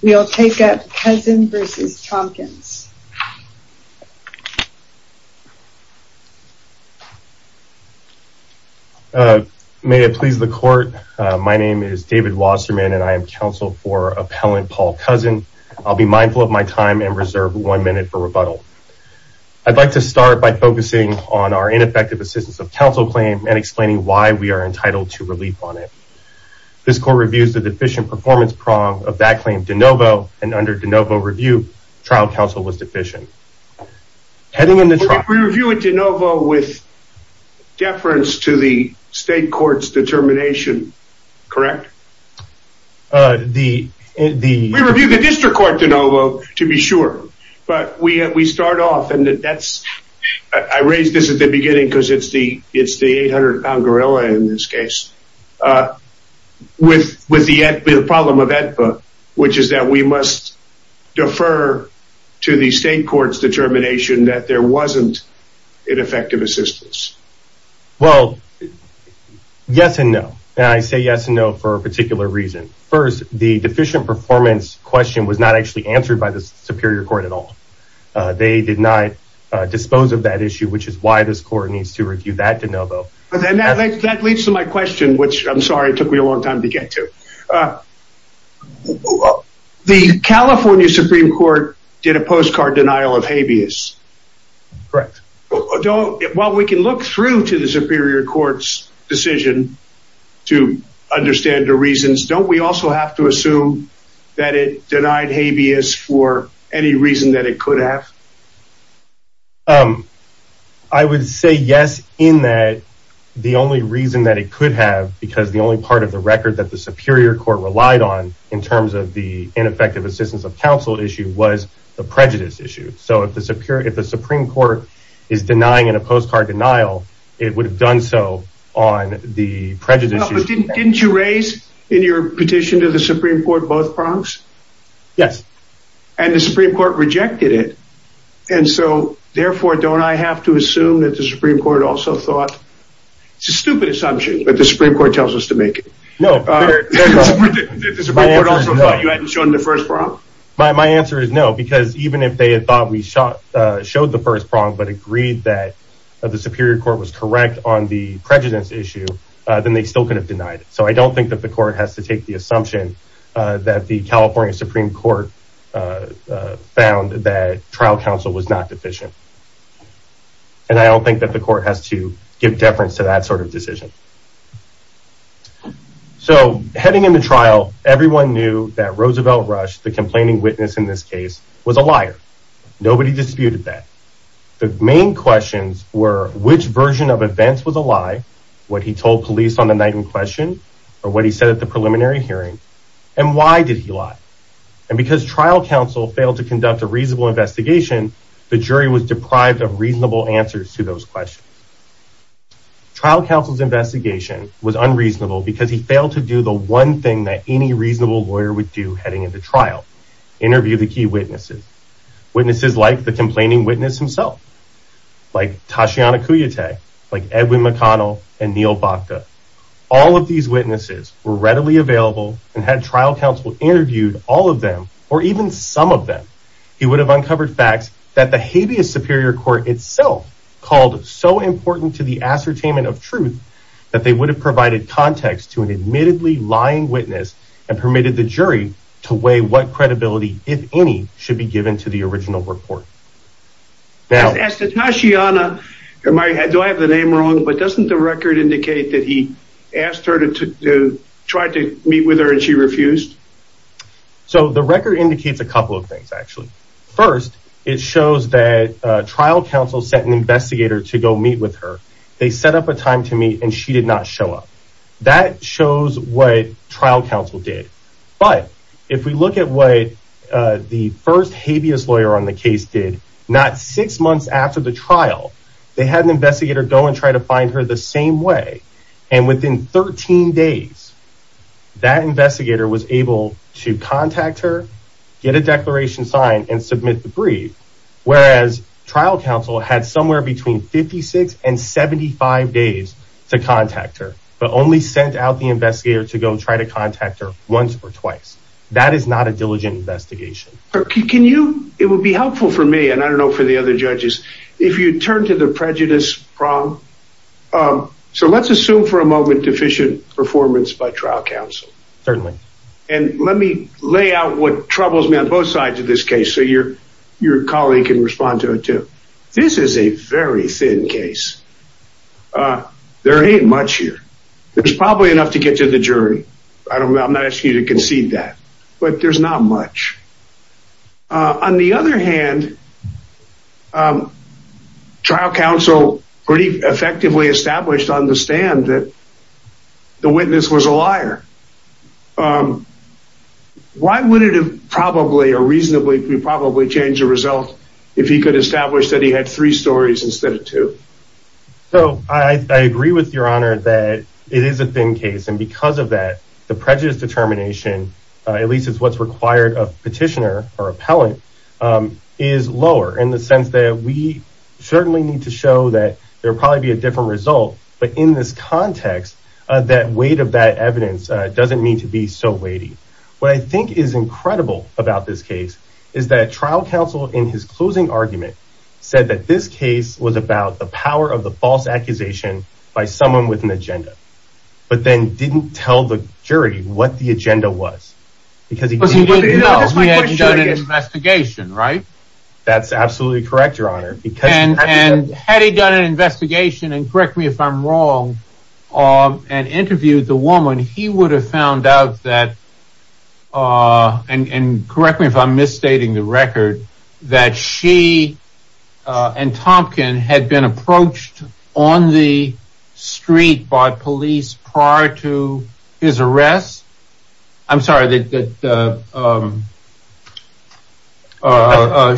We'll take up Cousin v. Tompkins. May it please the court, my name is David Wasserman and I am counsel for appellant Paul Cousin. I'll be mindful of my time and reserve one minute for rebuttal. I'd like to start by focusing on our ineffective assistance of counsel claim and explaining why we are entitled to relief on it. This court reviews the deficient performance prong of that claim de novo and under de novo review, trial counsel was deficient. We review it de novo with deference to the state court's determination, correct? We review the district court de novo to be sure, but we start off and that's, I raised this at the beginning because it's the 800 pound gorilla in this case, uh, with, with the problem of EDPA, which is that we must defer to the state court's determination that there wasn't ineffective assistance. Well, yes and no. And I say yes and no for a particular reason. First, the deficient performance question was not actually answered by the superior court at all. Uh, they did not dispose of that issue, which is why this question, which I'm sorry, it took me a long time to get to, uh, the California Supreme court did a postcard denial of habeas. Correct. Well, we can look through to the superior court's decision to understand the reasons. Don't we also have to assume that it denied habeas for any reason that it could have? Um, I would say yes in that the only reason that it could have, because the only part of the record that the superior court relied on in terms of the ineffective assistance of counsel issue was the prejudice issue. So if the superior, if the Supreme court is denying in a postcard denial, it would have done so on the prejudice. Didn't you raise in your petition to the Supreme court both prongs? Yes. And the Supreme court rejected it. And so therefore, don't I have to assume that the Supreme court also thought it's a stupid assumption, but the Supreme court tells us to make it. No. My answer is no, because even if they had thought we shot, uh, showed the first prong, but agreed that the superior court was correct on the prejudice issue, uh, then they could have denied it. So I don't think that the court has to take the assumption, uh, that the California Supreme court, uh, uh, found that trial counsel was not deficient. And I don't think that the court has to give deference to that sort of decision. So heading into trial, everyone knew that Roosevelt rush, the complaining witness in this case was a liar. Nobody disputed that the main questions were which version of events was a lie. What he told police on the night in question, or what he said at the preliminary hearing and why did he lie? And because trial counsel failed to conduct a reasonable investigation, the jury was deprived of reasonable answers to those questions. Trial counsel's investigation was unreasonable because he failed to do the one thing that any reasonable lawyer would do heading into trial, interview the key witnesses, witnesses, like the complaining witness himself, like Tashiana Kuyatay, like Edwin McConnell and Neil Bokda. All of these witnesses were readily available and had trial counsel interviewed all of them, or even some of them. He would have uncovered facts that the habeas superior court itself called so important to the ascertainment of truth that they would have provided context to an credibility, if any, should be given to the original report. As to Tashiana, do I have the name wrong, but doesn't the record indicate that he asked her to try to meet with her and she refused? So the record indicates a couple of things, actually. First, it shows that trial counsel sent an investigator to go meet with her. They set up a time to meet and she did not show up. That shows what trial counsel did. But if we look at what the first habeas lawyer on the case did, not six months after the trial, they had an investigator go and try to find her the same way, and within 13 days, that investigator was able to contact her, get a declaration signed, and submit the brief, whereas trial counsel had somewhere between 56 and 75 days to contact her. Only sent out the investigator to go try to contact her once or twice. That is not a diligent investigation. It would be helpful for me, and I don't know for the other judges, if you turn to the prejudice problem. So let's assume for a moment deficient performance by trial counsel. Certainly. And let me lay out what troubles me on both sides of this case so your colleague can respond to it too. This is a very thin case. There ain't much here. There's probably enough to get to the jury. I'm not asking you to concede that, but there's not much. On the other hand, trial counsel pretty effectively established on the stand that the witness was a liar. Why would it have probably or reasonably could probably change the result if he could establish that he had three stories instead of two? So I agree with your honor that it is a thin case. And because of that, the prejudice determination, at least it's what's required of petitioner or appellant, is lower in the sense that we certainly need to show that there will probably be a different result. But in this context, that weight of that evidence doesn't mean to be so weighty. What I think is incredible about this case is that trial counsel in his closing argument said that this case was about the power of the false accusation by someone with an agenda, but then didn't tell the jury what the agenda was. He had done an investigation, right? That's absolutely correct, your honor. And had he done an investigation, and correct me if I'm wrong, and interviewed the woman, he would have found out that, and correct me if I'm misstating the record, that she and Tompkin had been approached on the street by police prior to his arrest. I'm sorry, that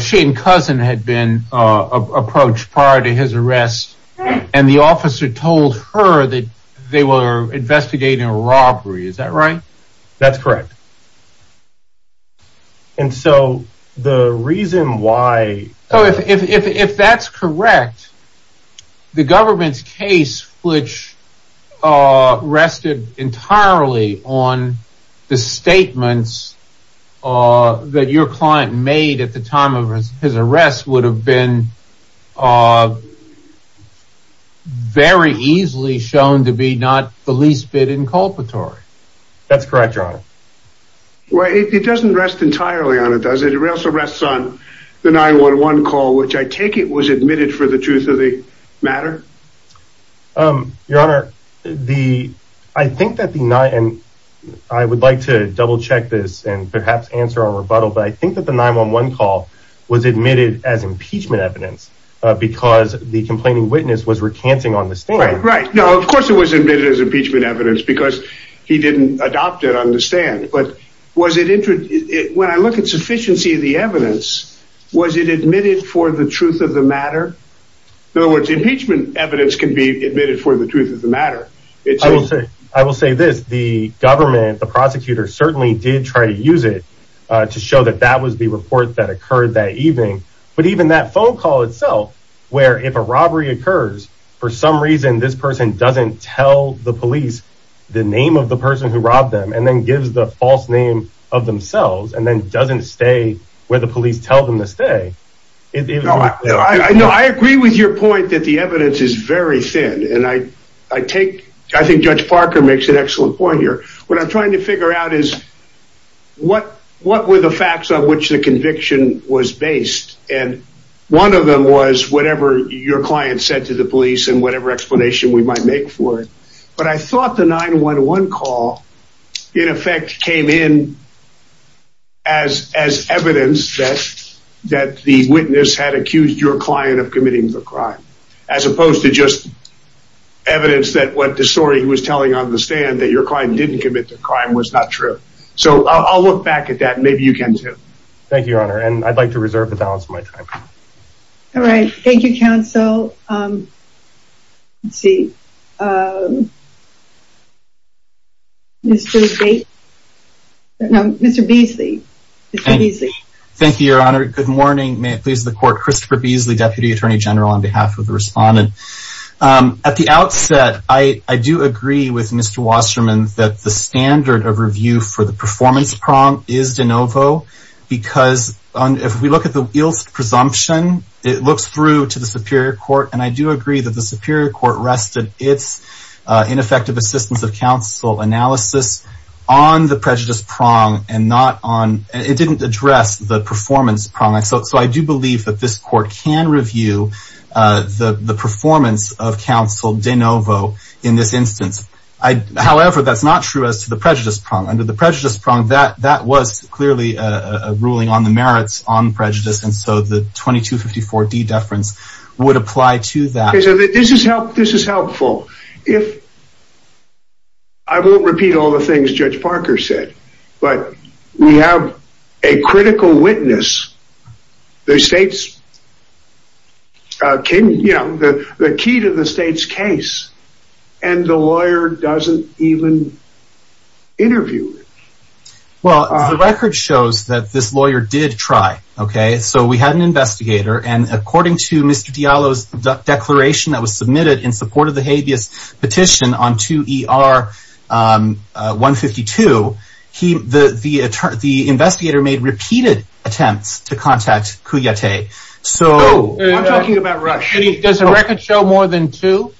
she and Cousin had been approached prior to his arrest, and the officer told her that they were investigating a robbery. Is that right? That's correct. And so, the reason why... So, if that's correct, the government's case which rested entirely on the statements that your client made at the time of his arrest would have been very easily shown to be not the least bit inculpatory. That's correct, your honor. Well, it doesn't rest entirely on it, does it? It also rests on the 9-1-1 call, which I take it was admitted for the truth of the matter? Your honor, I would like to double check this and perhaps answer our rebuttal, but I think that the 9-1-1 call was admitted as impeachment evidence because the complaining witness was recanting on the stand. Right, right. No, of course it was impeachment evidence because he didn't adopt it on the stand, but when I look at sufficiency of the evidence, was it admitted for the truth of the matter? In other words, impeachment evidence can be admitted for the truth of the matter. I will say this, the government, the prosecutor certainly did try to use it to show that that was the report that occurred that evening, but even that phone call itself, where if a robbery occurs, for some reason, this person doesn't tell the police the name of the person who robbed them and then gives the false name of themselves and then doesn't stay where the police tell them to stay. No, I agree with your point that the evidence is very thin and I take, I think Judge Parker makes an excellent point here. What I'm trying to figure out is what were the facts on which the conviction was based and one of them was whatever your client said to the police and whatever explanation we might make for it, but I thought the 9-1-1 call in effect came in as evidence that the witness had accused your client of committing the crime as opposed to just evidence that what the story he was telling on the stand that your client didn't commit the crime was not true. So I'll look back at that and maybe you can too. Thank you, Your Honor, and I'd like to reserve the balance of my time. All right. Thank you, counsel. Let's see. Mr. Bates? No, Mr. Beasley. Thank you, Your Honor. Good morning. May it please the court. Christopher Beasley, Deputy Attorney General on behalf of the respondent. At the outset, I do agree with Mr. Wasserman that the standard of review for the performance prong is de novo because if we look at the ilsed presumption, it looks through to the superior court and I do agree that the superior court rested its ineffective assistance of counsel analysis on the prejudice prong and not on, it didn't address the performance prong. So I do believe that this court can review the performance of counsel de novo in this instance. However, that's not true as to the prejudice prong. Under the prejudice prong, that was clearly a ruling on the merits on prejudice and so the 2254D deference would apply to that. This is helpful. I won't repeat all the things Judge Parker said, but we have a critical witness, the key to the state's case, and the lawyer doesn't even interview it. Well, the record shows that this lawyer did try, okay? So we had an investigator and according to Mr. Diallo's declaration that was submitted in 1952, the investigator made repeated attempts to contact Kouyaté. I'm talking about Rush. Does the record show more than two?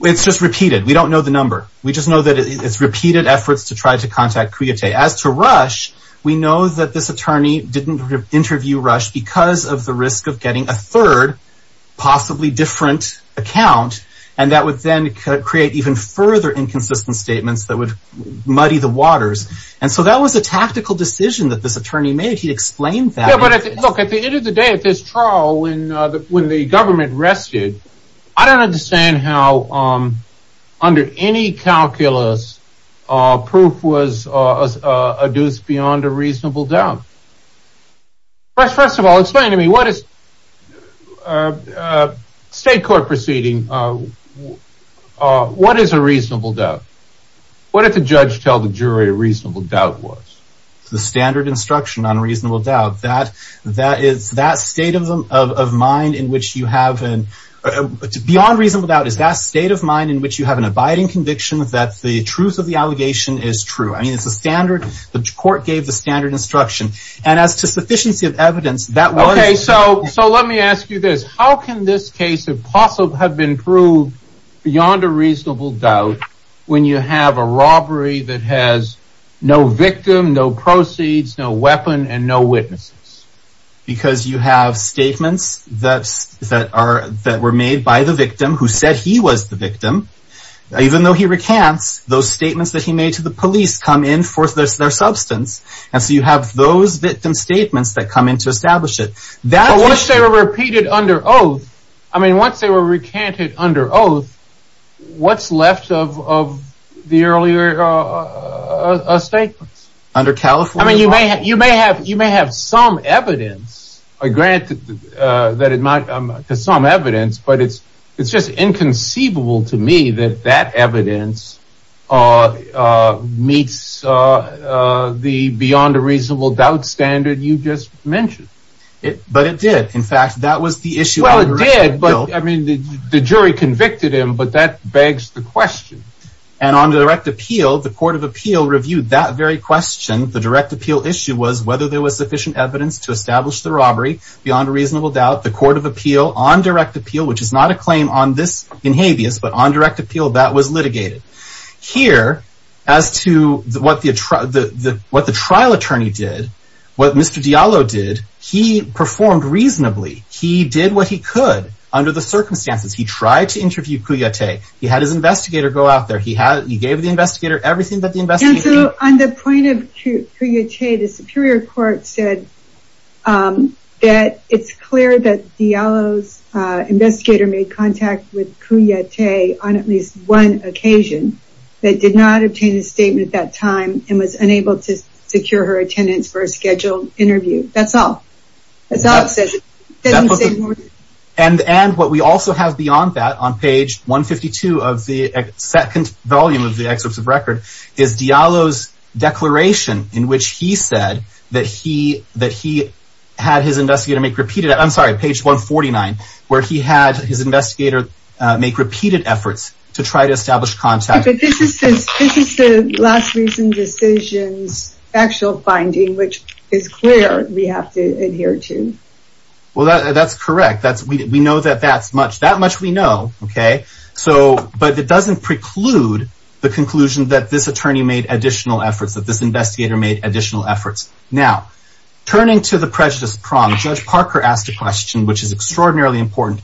It's just repeated. We don't know the number. We just know that it's repeated efforts to try to contact Kouyaté. As to Rush, we know that this attorney didn't interview Rush because of the risk of getting a third, possibly different, account and that would then create even further inconsistent statements that would muddy the waters and so that was a tactical decision that this attorney made. He explained that. Yeah, but look, at the end of the day, at this trial, when the government rested, I don't understand how under any calculus proof was adduced beyond a reasonable doubt. Rush, first of all, explain to me what is a state court proceeding, what is a reasonable doubt? What did the judge tell the jury a reasonable doubt was? The standard instruction on reasonable doubt, that is that state of mind in which you have an beyond reasonable doubt is that state of mind in which you have an abiding conviction that the court gave the standard instruction and as to sufficiency of evidence that was... Okay, so let me ask you this. How can this case have been proved beyond a reasonable doubt when you have a robbery that has no victim, no proceeds, no weapon and no witnesses? Because you have statements that were made by the victim who said he was the victim. Even though he recants, those statements that he made to the police come in for their substance and so you have those victim statements that come in to establish it. But once they were repeated under oath, I mean, once they were recanted under oath, what's left of the earlier statements? Under California law? I mean, you may have some evidence, granted that it might be some evidence, but it's just inconceivable to me that that evidence meets the beyond a reasonable doubt standard you just mentioned. But it did. In fact, that was the issue. Well, it did, but I mean, the jury convicted him, but that begs the question. And on the direct appeal, the court of appeal reviewed that very question. The direct appeal issue was whether there was sufficient evidence to establish the robbery beyond a reasonable doubt. The court of appeal on direct appeal, which is not a claim on this in habeas, but on direct appeal that was litigated here as to what the what the trial attorney did, what Mr. Diallo did. He performed reasonably. He did what he could under the circumstances. He tried to interview Kouyaté. He had his investigator go out there. He had he gave the investigator everything that the investigation. On the point of Kouyaté, the superior court said that it's clear that Diallo's investigator made contact with Kouyaté on at least one occasion that did not obtain a statement at time and was unable to secure her attendance for a scheduled interview. That's all. And and what we also have beyond that on page 152 of the second volume of the excerpts of Diallo's declaration in which he said that he that he had his investigator make repeated. I'm sorry, page 149, where he had his investigator make repeated efforts to try to establish contact. But this is this is the last recent decisions, actual finding, which is clear. We have to adhere to. Well, that's correct. That's we know that that's much that much we know. OK, so but it doesn't preclude the conclusion that this attorney made additional efforts that this investigator made additional efforts. Now, turning to the prejudice prong, Judge Parker asked a question which is extraordinarily important.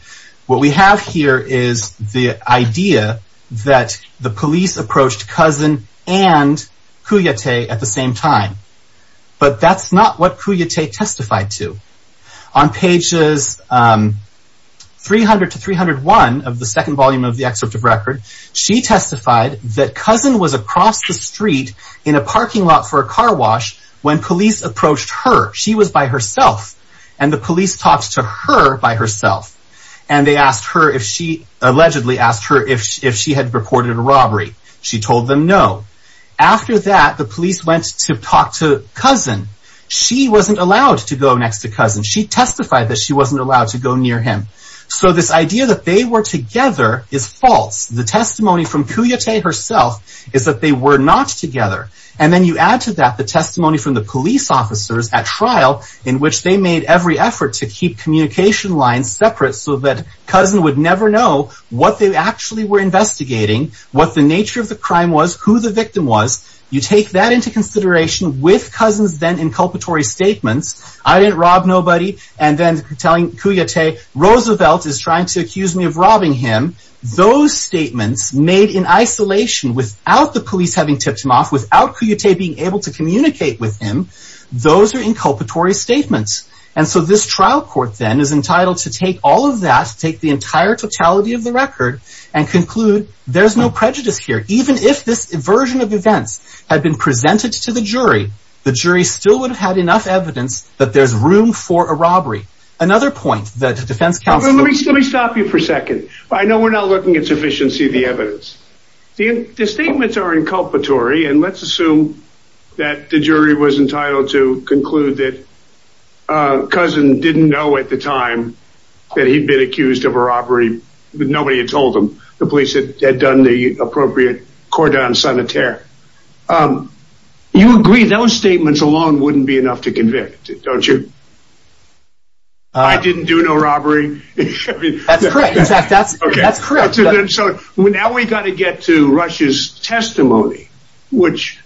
What we have here is the idea that the police approached Cousin and Kouyaté at the same time. But that's not what Kouyaté testified to. On pages 300 to 301 of the second volume of the excerpt of record, she testified that Cousin was across the street in a parking lot for a car wash when police approached her. She was by herself and the police talked to her by herself. And they asked her if she allegedly asked her if if she had reported a robbery. She told them no. After that, the police went to talk to Cousin. She wasn't allowed to go next to Cousin. She testified that she wasn't allowed to go near him. So this idea that they were together is false. The testimony from Kouyaté herself is that they were not together. And then you add to that the testimony from the police officers at trial in which they made every effort to keep communication lines separate so that Cousin would never know what they actually were investigating, what the nature of the crime was, who the victim was. You take that into consideration with Cousin's then inculpatory statements. I didn't rob nobody. And then telling Kouyaté Roosevelt is trying to accuse me of robbing him. Those statements made in isolation without the police having tipped him off, without Kouyaté being able to communicate with him. Those are inculpatory statements. And so this trial court then is entitled to take all of that, take the entire totality of the record and conclude there's no prejudice here. Even if this version of events had been presented to the jury, the jury still would have had enough evidence that there's room for a robbery. Another point that the defense counsel... Let me stop you for a second. I know we're not looking at sufficiency of the evidence. The statements are inculpatory. And let's assume that the jury was entitled to conclude that Cousin didn't know at the time that he'd been accused of a robbery, but nobody had told him. The police had done the appropriate cordon sanitaire. Um, you agree those statements alone wouldn't be enough to convict, don't you? I didn't do no robbery. That's correct. In fact, that's correct. So now we got to get to Rush's testimony, which,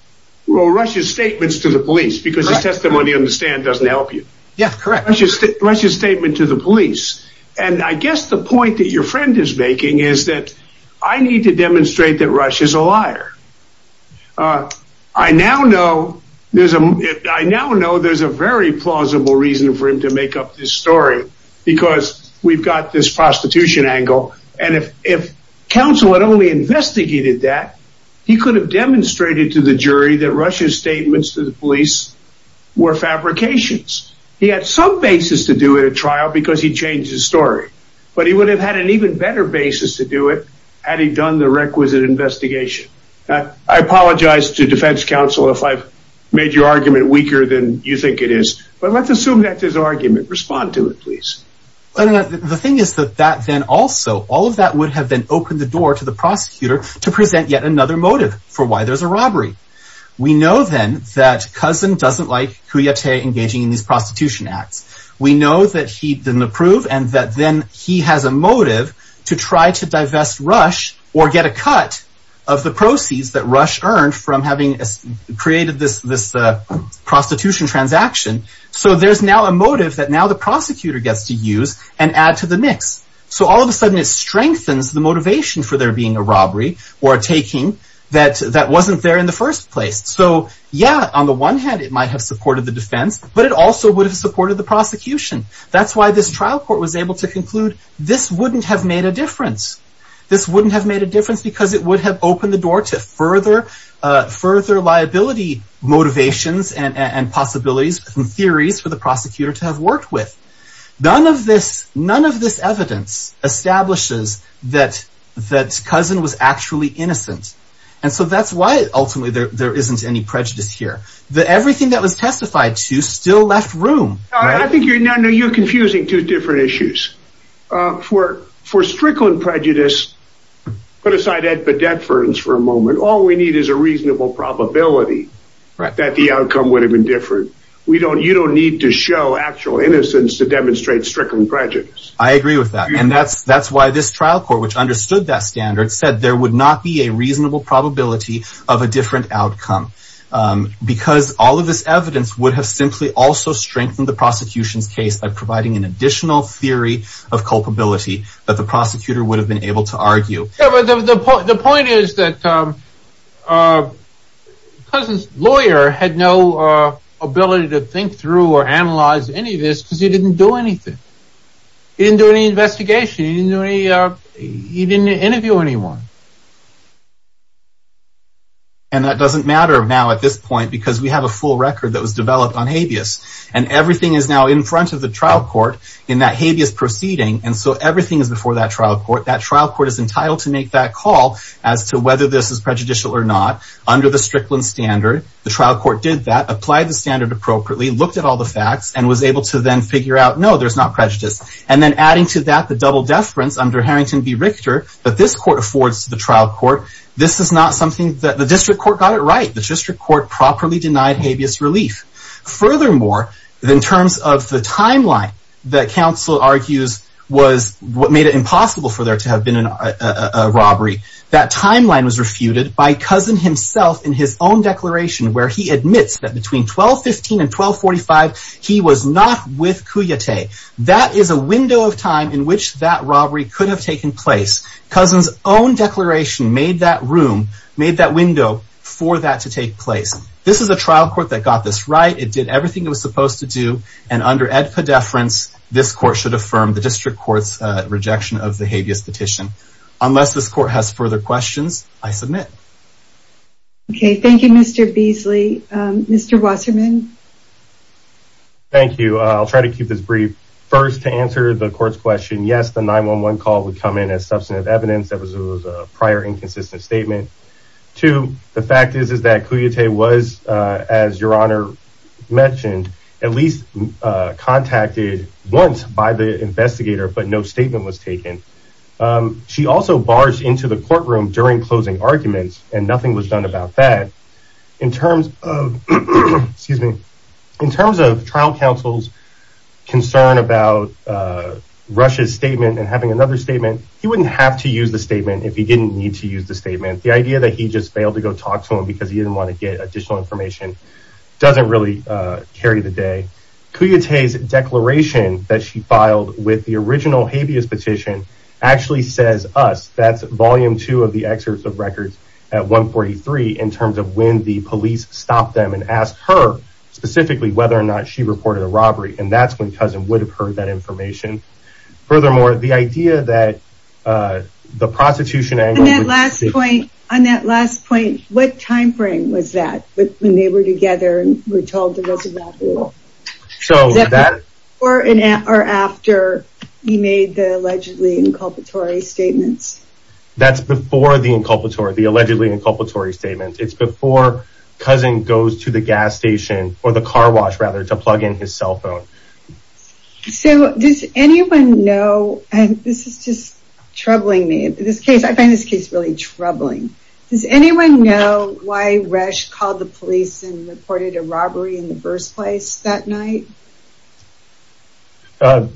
well, Rush's statements to the police, because his testimony on the stand doesn't help you. Yeah, correct. Rush's statement to the police. And I guess the point that your friend is making is that I need to demonstrate that uh, I now know there's a, I now know there's a very plausible reason for him to make up this story because we've got this prostitution angle. And if, if counsel had only investigated that, he could have demonstrated to the jury that Rush's statements to the police were fabrications. He had some basis to do it at trial because he changed his story, but he would have had an even better basis to do it had he done the requisite investigation. I apologize to defense counsel if I've made your argument weaker than you think it is, but let's assume that this argument, respond to it, please. The thing is that that then also, all of that would have been opened the door to the prosecutor to present yet another motive for why there's a robbery. We know then that Cousin doesn't like Kouyaté engaging in these prostitution acts. We know that he didn't approve and that then he has a motive to try to divest Rush or get a cut of the proceeds that Rush earned from having created this, this prostitution transaction. So there's now a motive that now the prosecutor gets to use and add to the mix. So all of a sudden it strengthens the motivation for there being a robbery or taking that, that wasn't there in the first place. So yeah, on the one hand, it might have supported the defense, but it also would have supported the prosecution. That's why this trial court was able to conclude this wouldn't have made a difference. This wouldn't have made a difference because it would have opened the door to further, further liability motivations and, and, and possibilities and theories for the prosecutor to have worked with. None of this, none of this evidence establishes that, that Cousin was actually innocent. And so that's why ultimately there, there isn't any prejudice here. The, everything that was testified to still left room. I think you're now, no, you're confusing two different issues for, for Strickland prejudice, put aside at Bedford for a moment. All we need is a reasonable probability that the outcome would have been different. We don't, you don't need to show actual innocence to demonstrate Strickland prejudice. I agree with that. And that's, that's why this trial court, which understood that standard said there would not be a reasonable probability of a different outcome because all of this by providing an additional theory of culpability that the prosecutor would have been able to argue. The point is that Cousin's lawyer had no ability to think through or analyze any of this because he didn't do anything. He didn't do any investigation. He didn't do any, he didn't interview anyone. And that doesn't matter now at this point, because we have a full record that was developed on habeas. And everything is now in front of the trial court in that habeas proceeding. And so everything is before that trial court. That trial court is entitled to make that call as to whether this is prejudicial or not under the Strickland standard. The trial court did that, applied the standard appropriately, looked at all the facts and was able to then figure out, no, there's not prejudice. And then adding to that the double deference under Harrington v Richter, that this court affords to the trial court. This is not something that the district court got it right. The district court properly denied habeas relief. Furthermore, in terms of the timeline, that counsel argues was what made it impossible for there to have been a robbery. That timeline was refuted by Cousin himself in his own declaration, where he admits that between 1215 and 1245, he was not with Cuyatay. That is a window of time in which that robbery could have taken place. Cousin's own declaration made that room, made that window for that to take place. This is a trial court that got this right. It did everything it was supposed to do. And under Ed Poddeference, this court should affirm the district court's rejection of the habeas petition. Unless this court has further questions, I submit. Okay, thank you, Mr. Beasley. Mr. Wasserman. Thank you. I'll try to keep this brief. First, to answer the court's question, yes, the 911 call would come in as substantive evidence. That was a prior inconsistent statement. Two, the fact is that Cuyatay was, as Your Honor mentioned, at least contacted once by the investigator, but no statement was taken. She also barged into the courtroom during closing arguments, and nothing was done about that. In terms of trial counsel's concern about Rush's statement and having another statement, he wouldn't have to use the statement if he didn't need to use the statement. The idea that he just failed to go talk to him because he didn't want to get additional information doesn't really carry the day. Cuyatay's declaration that she filed with the original habeas petition actually says us, that's volume two of the excerpts of records at 143, in terms of when the police stopped them and asked her, specifically, whether or not she reported a robbery. And that's when Cousin would have heard that information. Furthermore, the idea that the prostitution- On that last point, what time frame was that, when they were together and were told there was a robbery? Before or after he made the allegedly inculpatory statements? That's before the inculpatory, the allegedly inculpatory statements. It's before Cousin goes to the gas station, or the car wash, rather, to plug in his cell phone. So does anyone know, and this is just troubling me, I find this case really troubling. Does anyone know why Rush called the police and reported a robbery in the first place that night?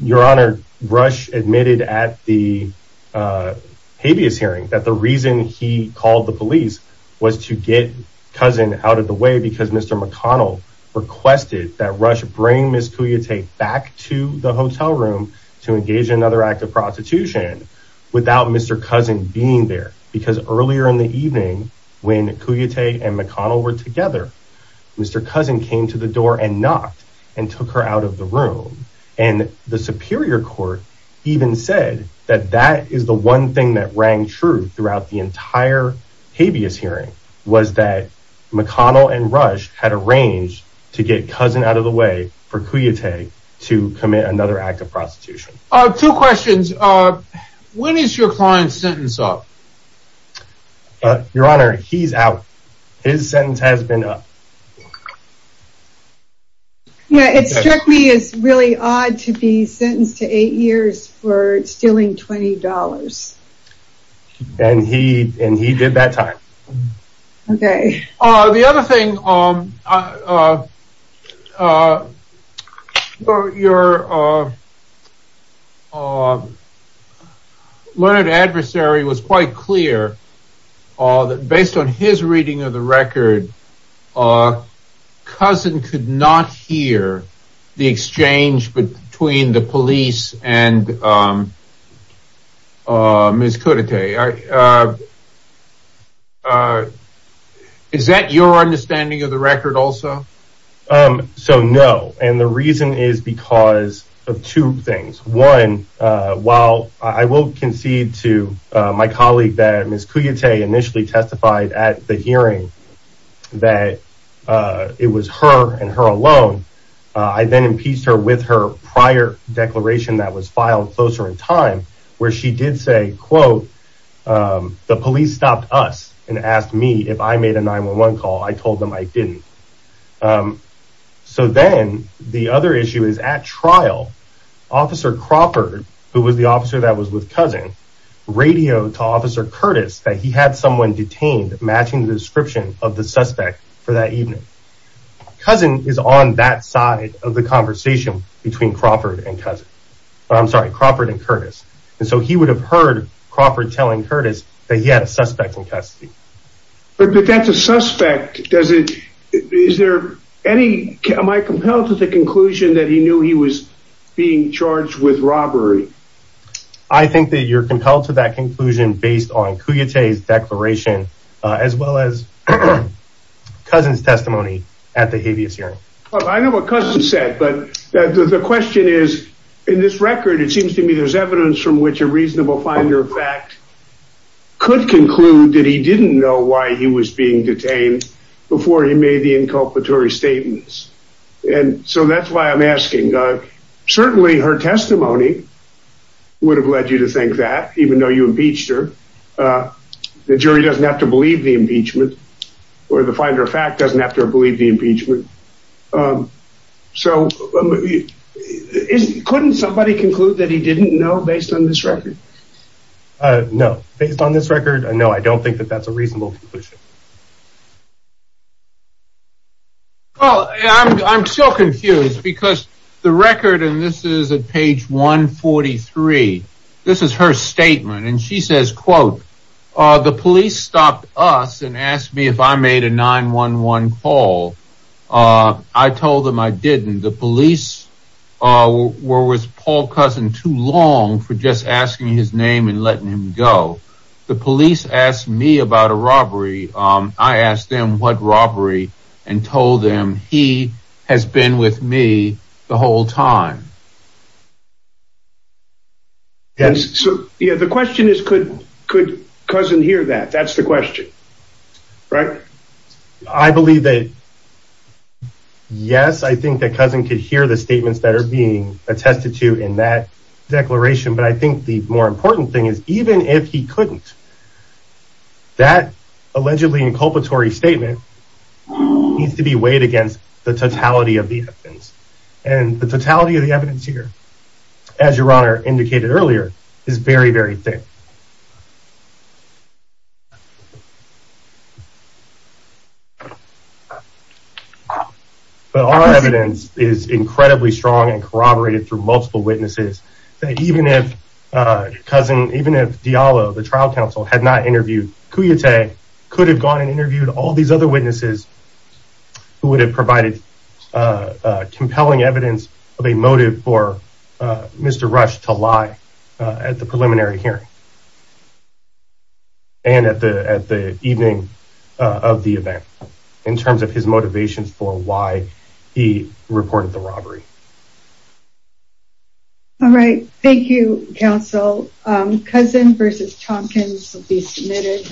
Your Honor, Rush admitted at the habeas hearing that the reason he called the police was to get Cousin out of the way because Mr. McConnell requested that Rush bring Ms. Cuyatay back to the hotel room to engage in another act of prostitution. Without Mr. Cousin being there. Because earlier in the evening, when Cuyatay and McConnell were together, Mr. Cousin came to the door and knocked and took her out of the room. And the Superior Court even said that that is the one thing that rang true throughout the entire habeas hearing, was that McConnell and Rush had arranged to get Cousin out of the way for Cuyatay to commit another act of prostitution. Two questions. When is your client's sentence up? Your Honor, he's out. His sentence has been up. Yeah, it struck me as really odd to be sentenced to eight years for stealing $20. And he did that time. Okay. The other thing, your learned adversary was quite clear that based on his reading of the record, Cousin could not hear the exchange between the police and Ms. Cuyatay. Is that your understanding of the record also? So, no. And the reason is because of two things. One, while I will concede to my colleague that Ms. Cuyatay initially testified at the hearing that it was her and her alone, I then impeached her with her prior declaration that was filed closer in time, where she did say, quote, the police stopped us and asked me if I made a 911 call. I told them I didn't. So then the other issue is at trial, Officer Crawford, who was the officer that was with Cousin, radioed to Officer Curtis that he had someone detained matching the description of the suspect for that evening. Cousin is on that side of the conversation between Crawford and Cousin. I'm sorry, Crawford and Curtis. And so he would have heard Crawford telling Curtis that he had a suspect in custody. But that's a suspect. Am I compelled to the conclusion that he knew he was being charged with robbery? I think that you're compelled to that conclusion based on Cuyatay's declaration, as well as Cousin's testimony at the habeas hearing. I know what Cousin said. The question is, in this record, it seems to me there's evidence from which a reasonable finder of fact could conclude that he didn't know why he was being detained before he made the inculpatory statements. And so that's why I'm asking. Certainly her testimony would have led you to think that, even though you impeached her. The jury doesn't have to believe the impeachment, or the finder of fact doesn't have to believe the impeachment. So couldn't somebody conclude that he didn't know based on this record? No, based on this record, no, I don't think that that's a reasonable conclusion. Well, I'm still confused because the record, and this is at page 143, this is her statement, and she says, quote, the police stopped us and asked me if I made a 911 call. I told them I didn't. The police, where was Paul Cousin too long for just asking his name and letting him go? The police asked me about a robbery. I asked them what robbery and told them he has been with me the whole time. And so the question is, could Cousin hear that? That's the question, right? I believe that, yes, I think that Cousin could hear the statements that are being attested to in that declaration. But I think the more important thing is, even if he couldn't, that allegedly inculpatory statement needs to be weighed against the totality of the evidence. And the totality of the evidence, here, as your Honor indicated earlier, is very, very thick. But our evidence is incredibly strong and corroborated through multiple witnesses that even if Cousin, even if Diallo, the trial counsel, had not interviewed Kuyete, could have gone and interviewed all these other witnesses, who would have provided compelling evidence of a motive for Mr. Rush to lie at the preliminary hearing and at the evening of the event, in terms of his motivations for why he reported the robbery. All right, thank you, counsel. Cousin v. Tompkins will be submitted.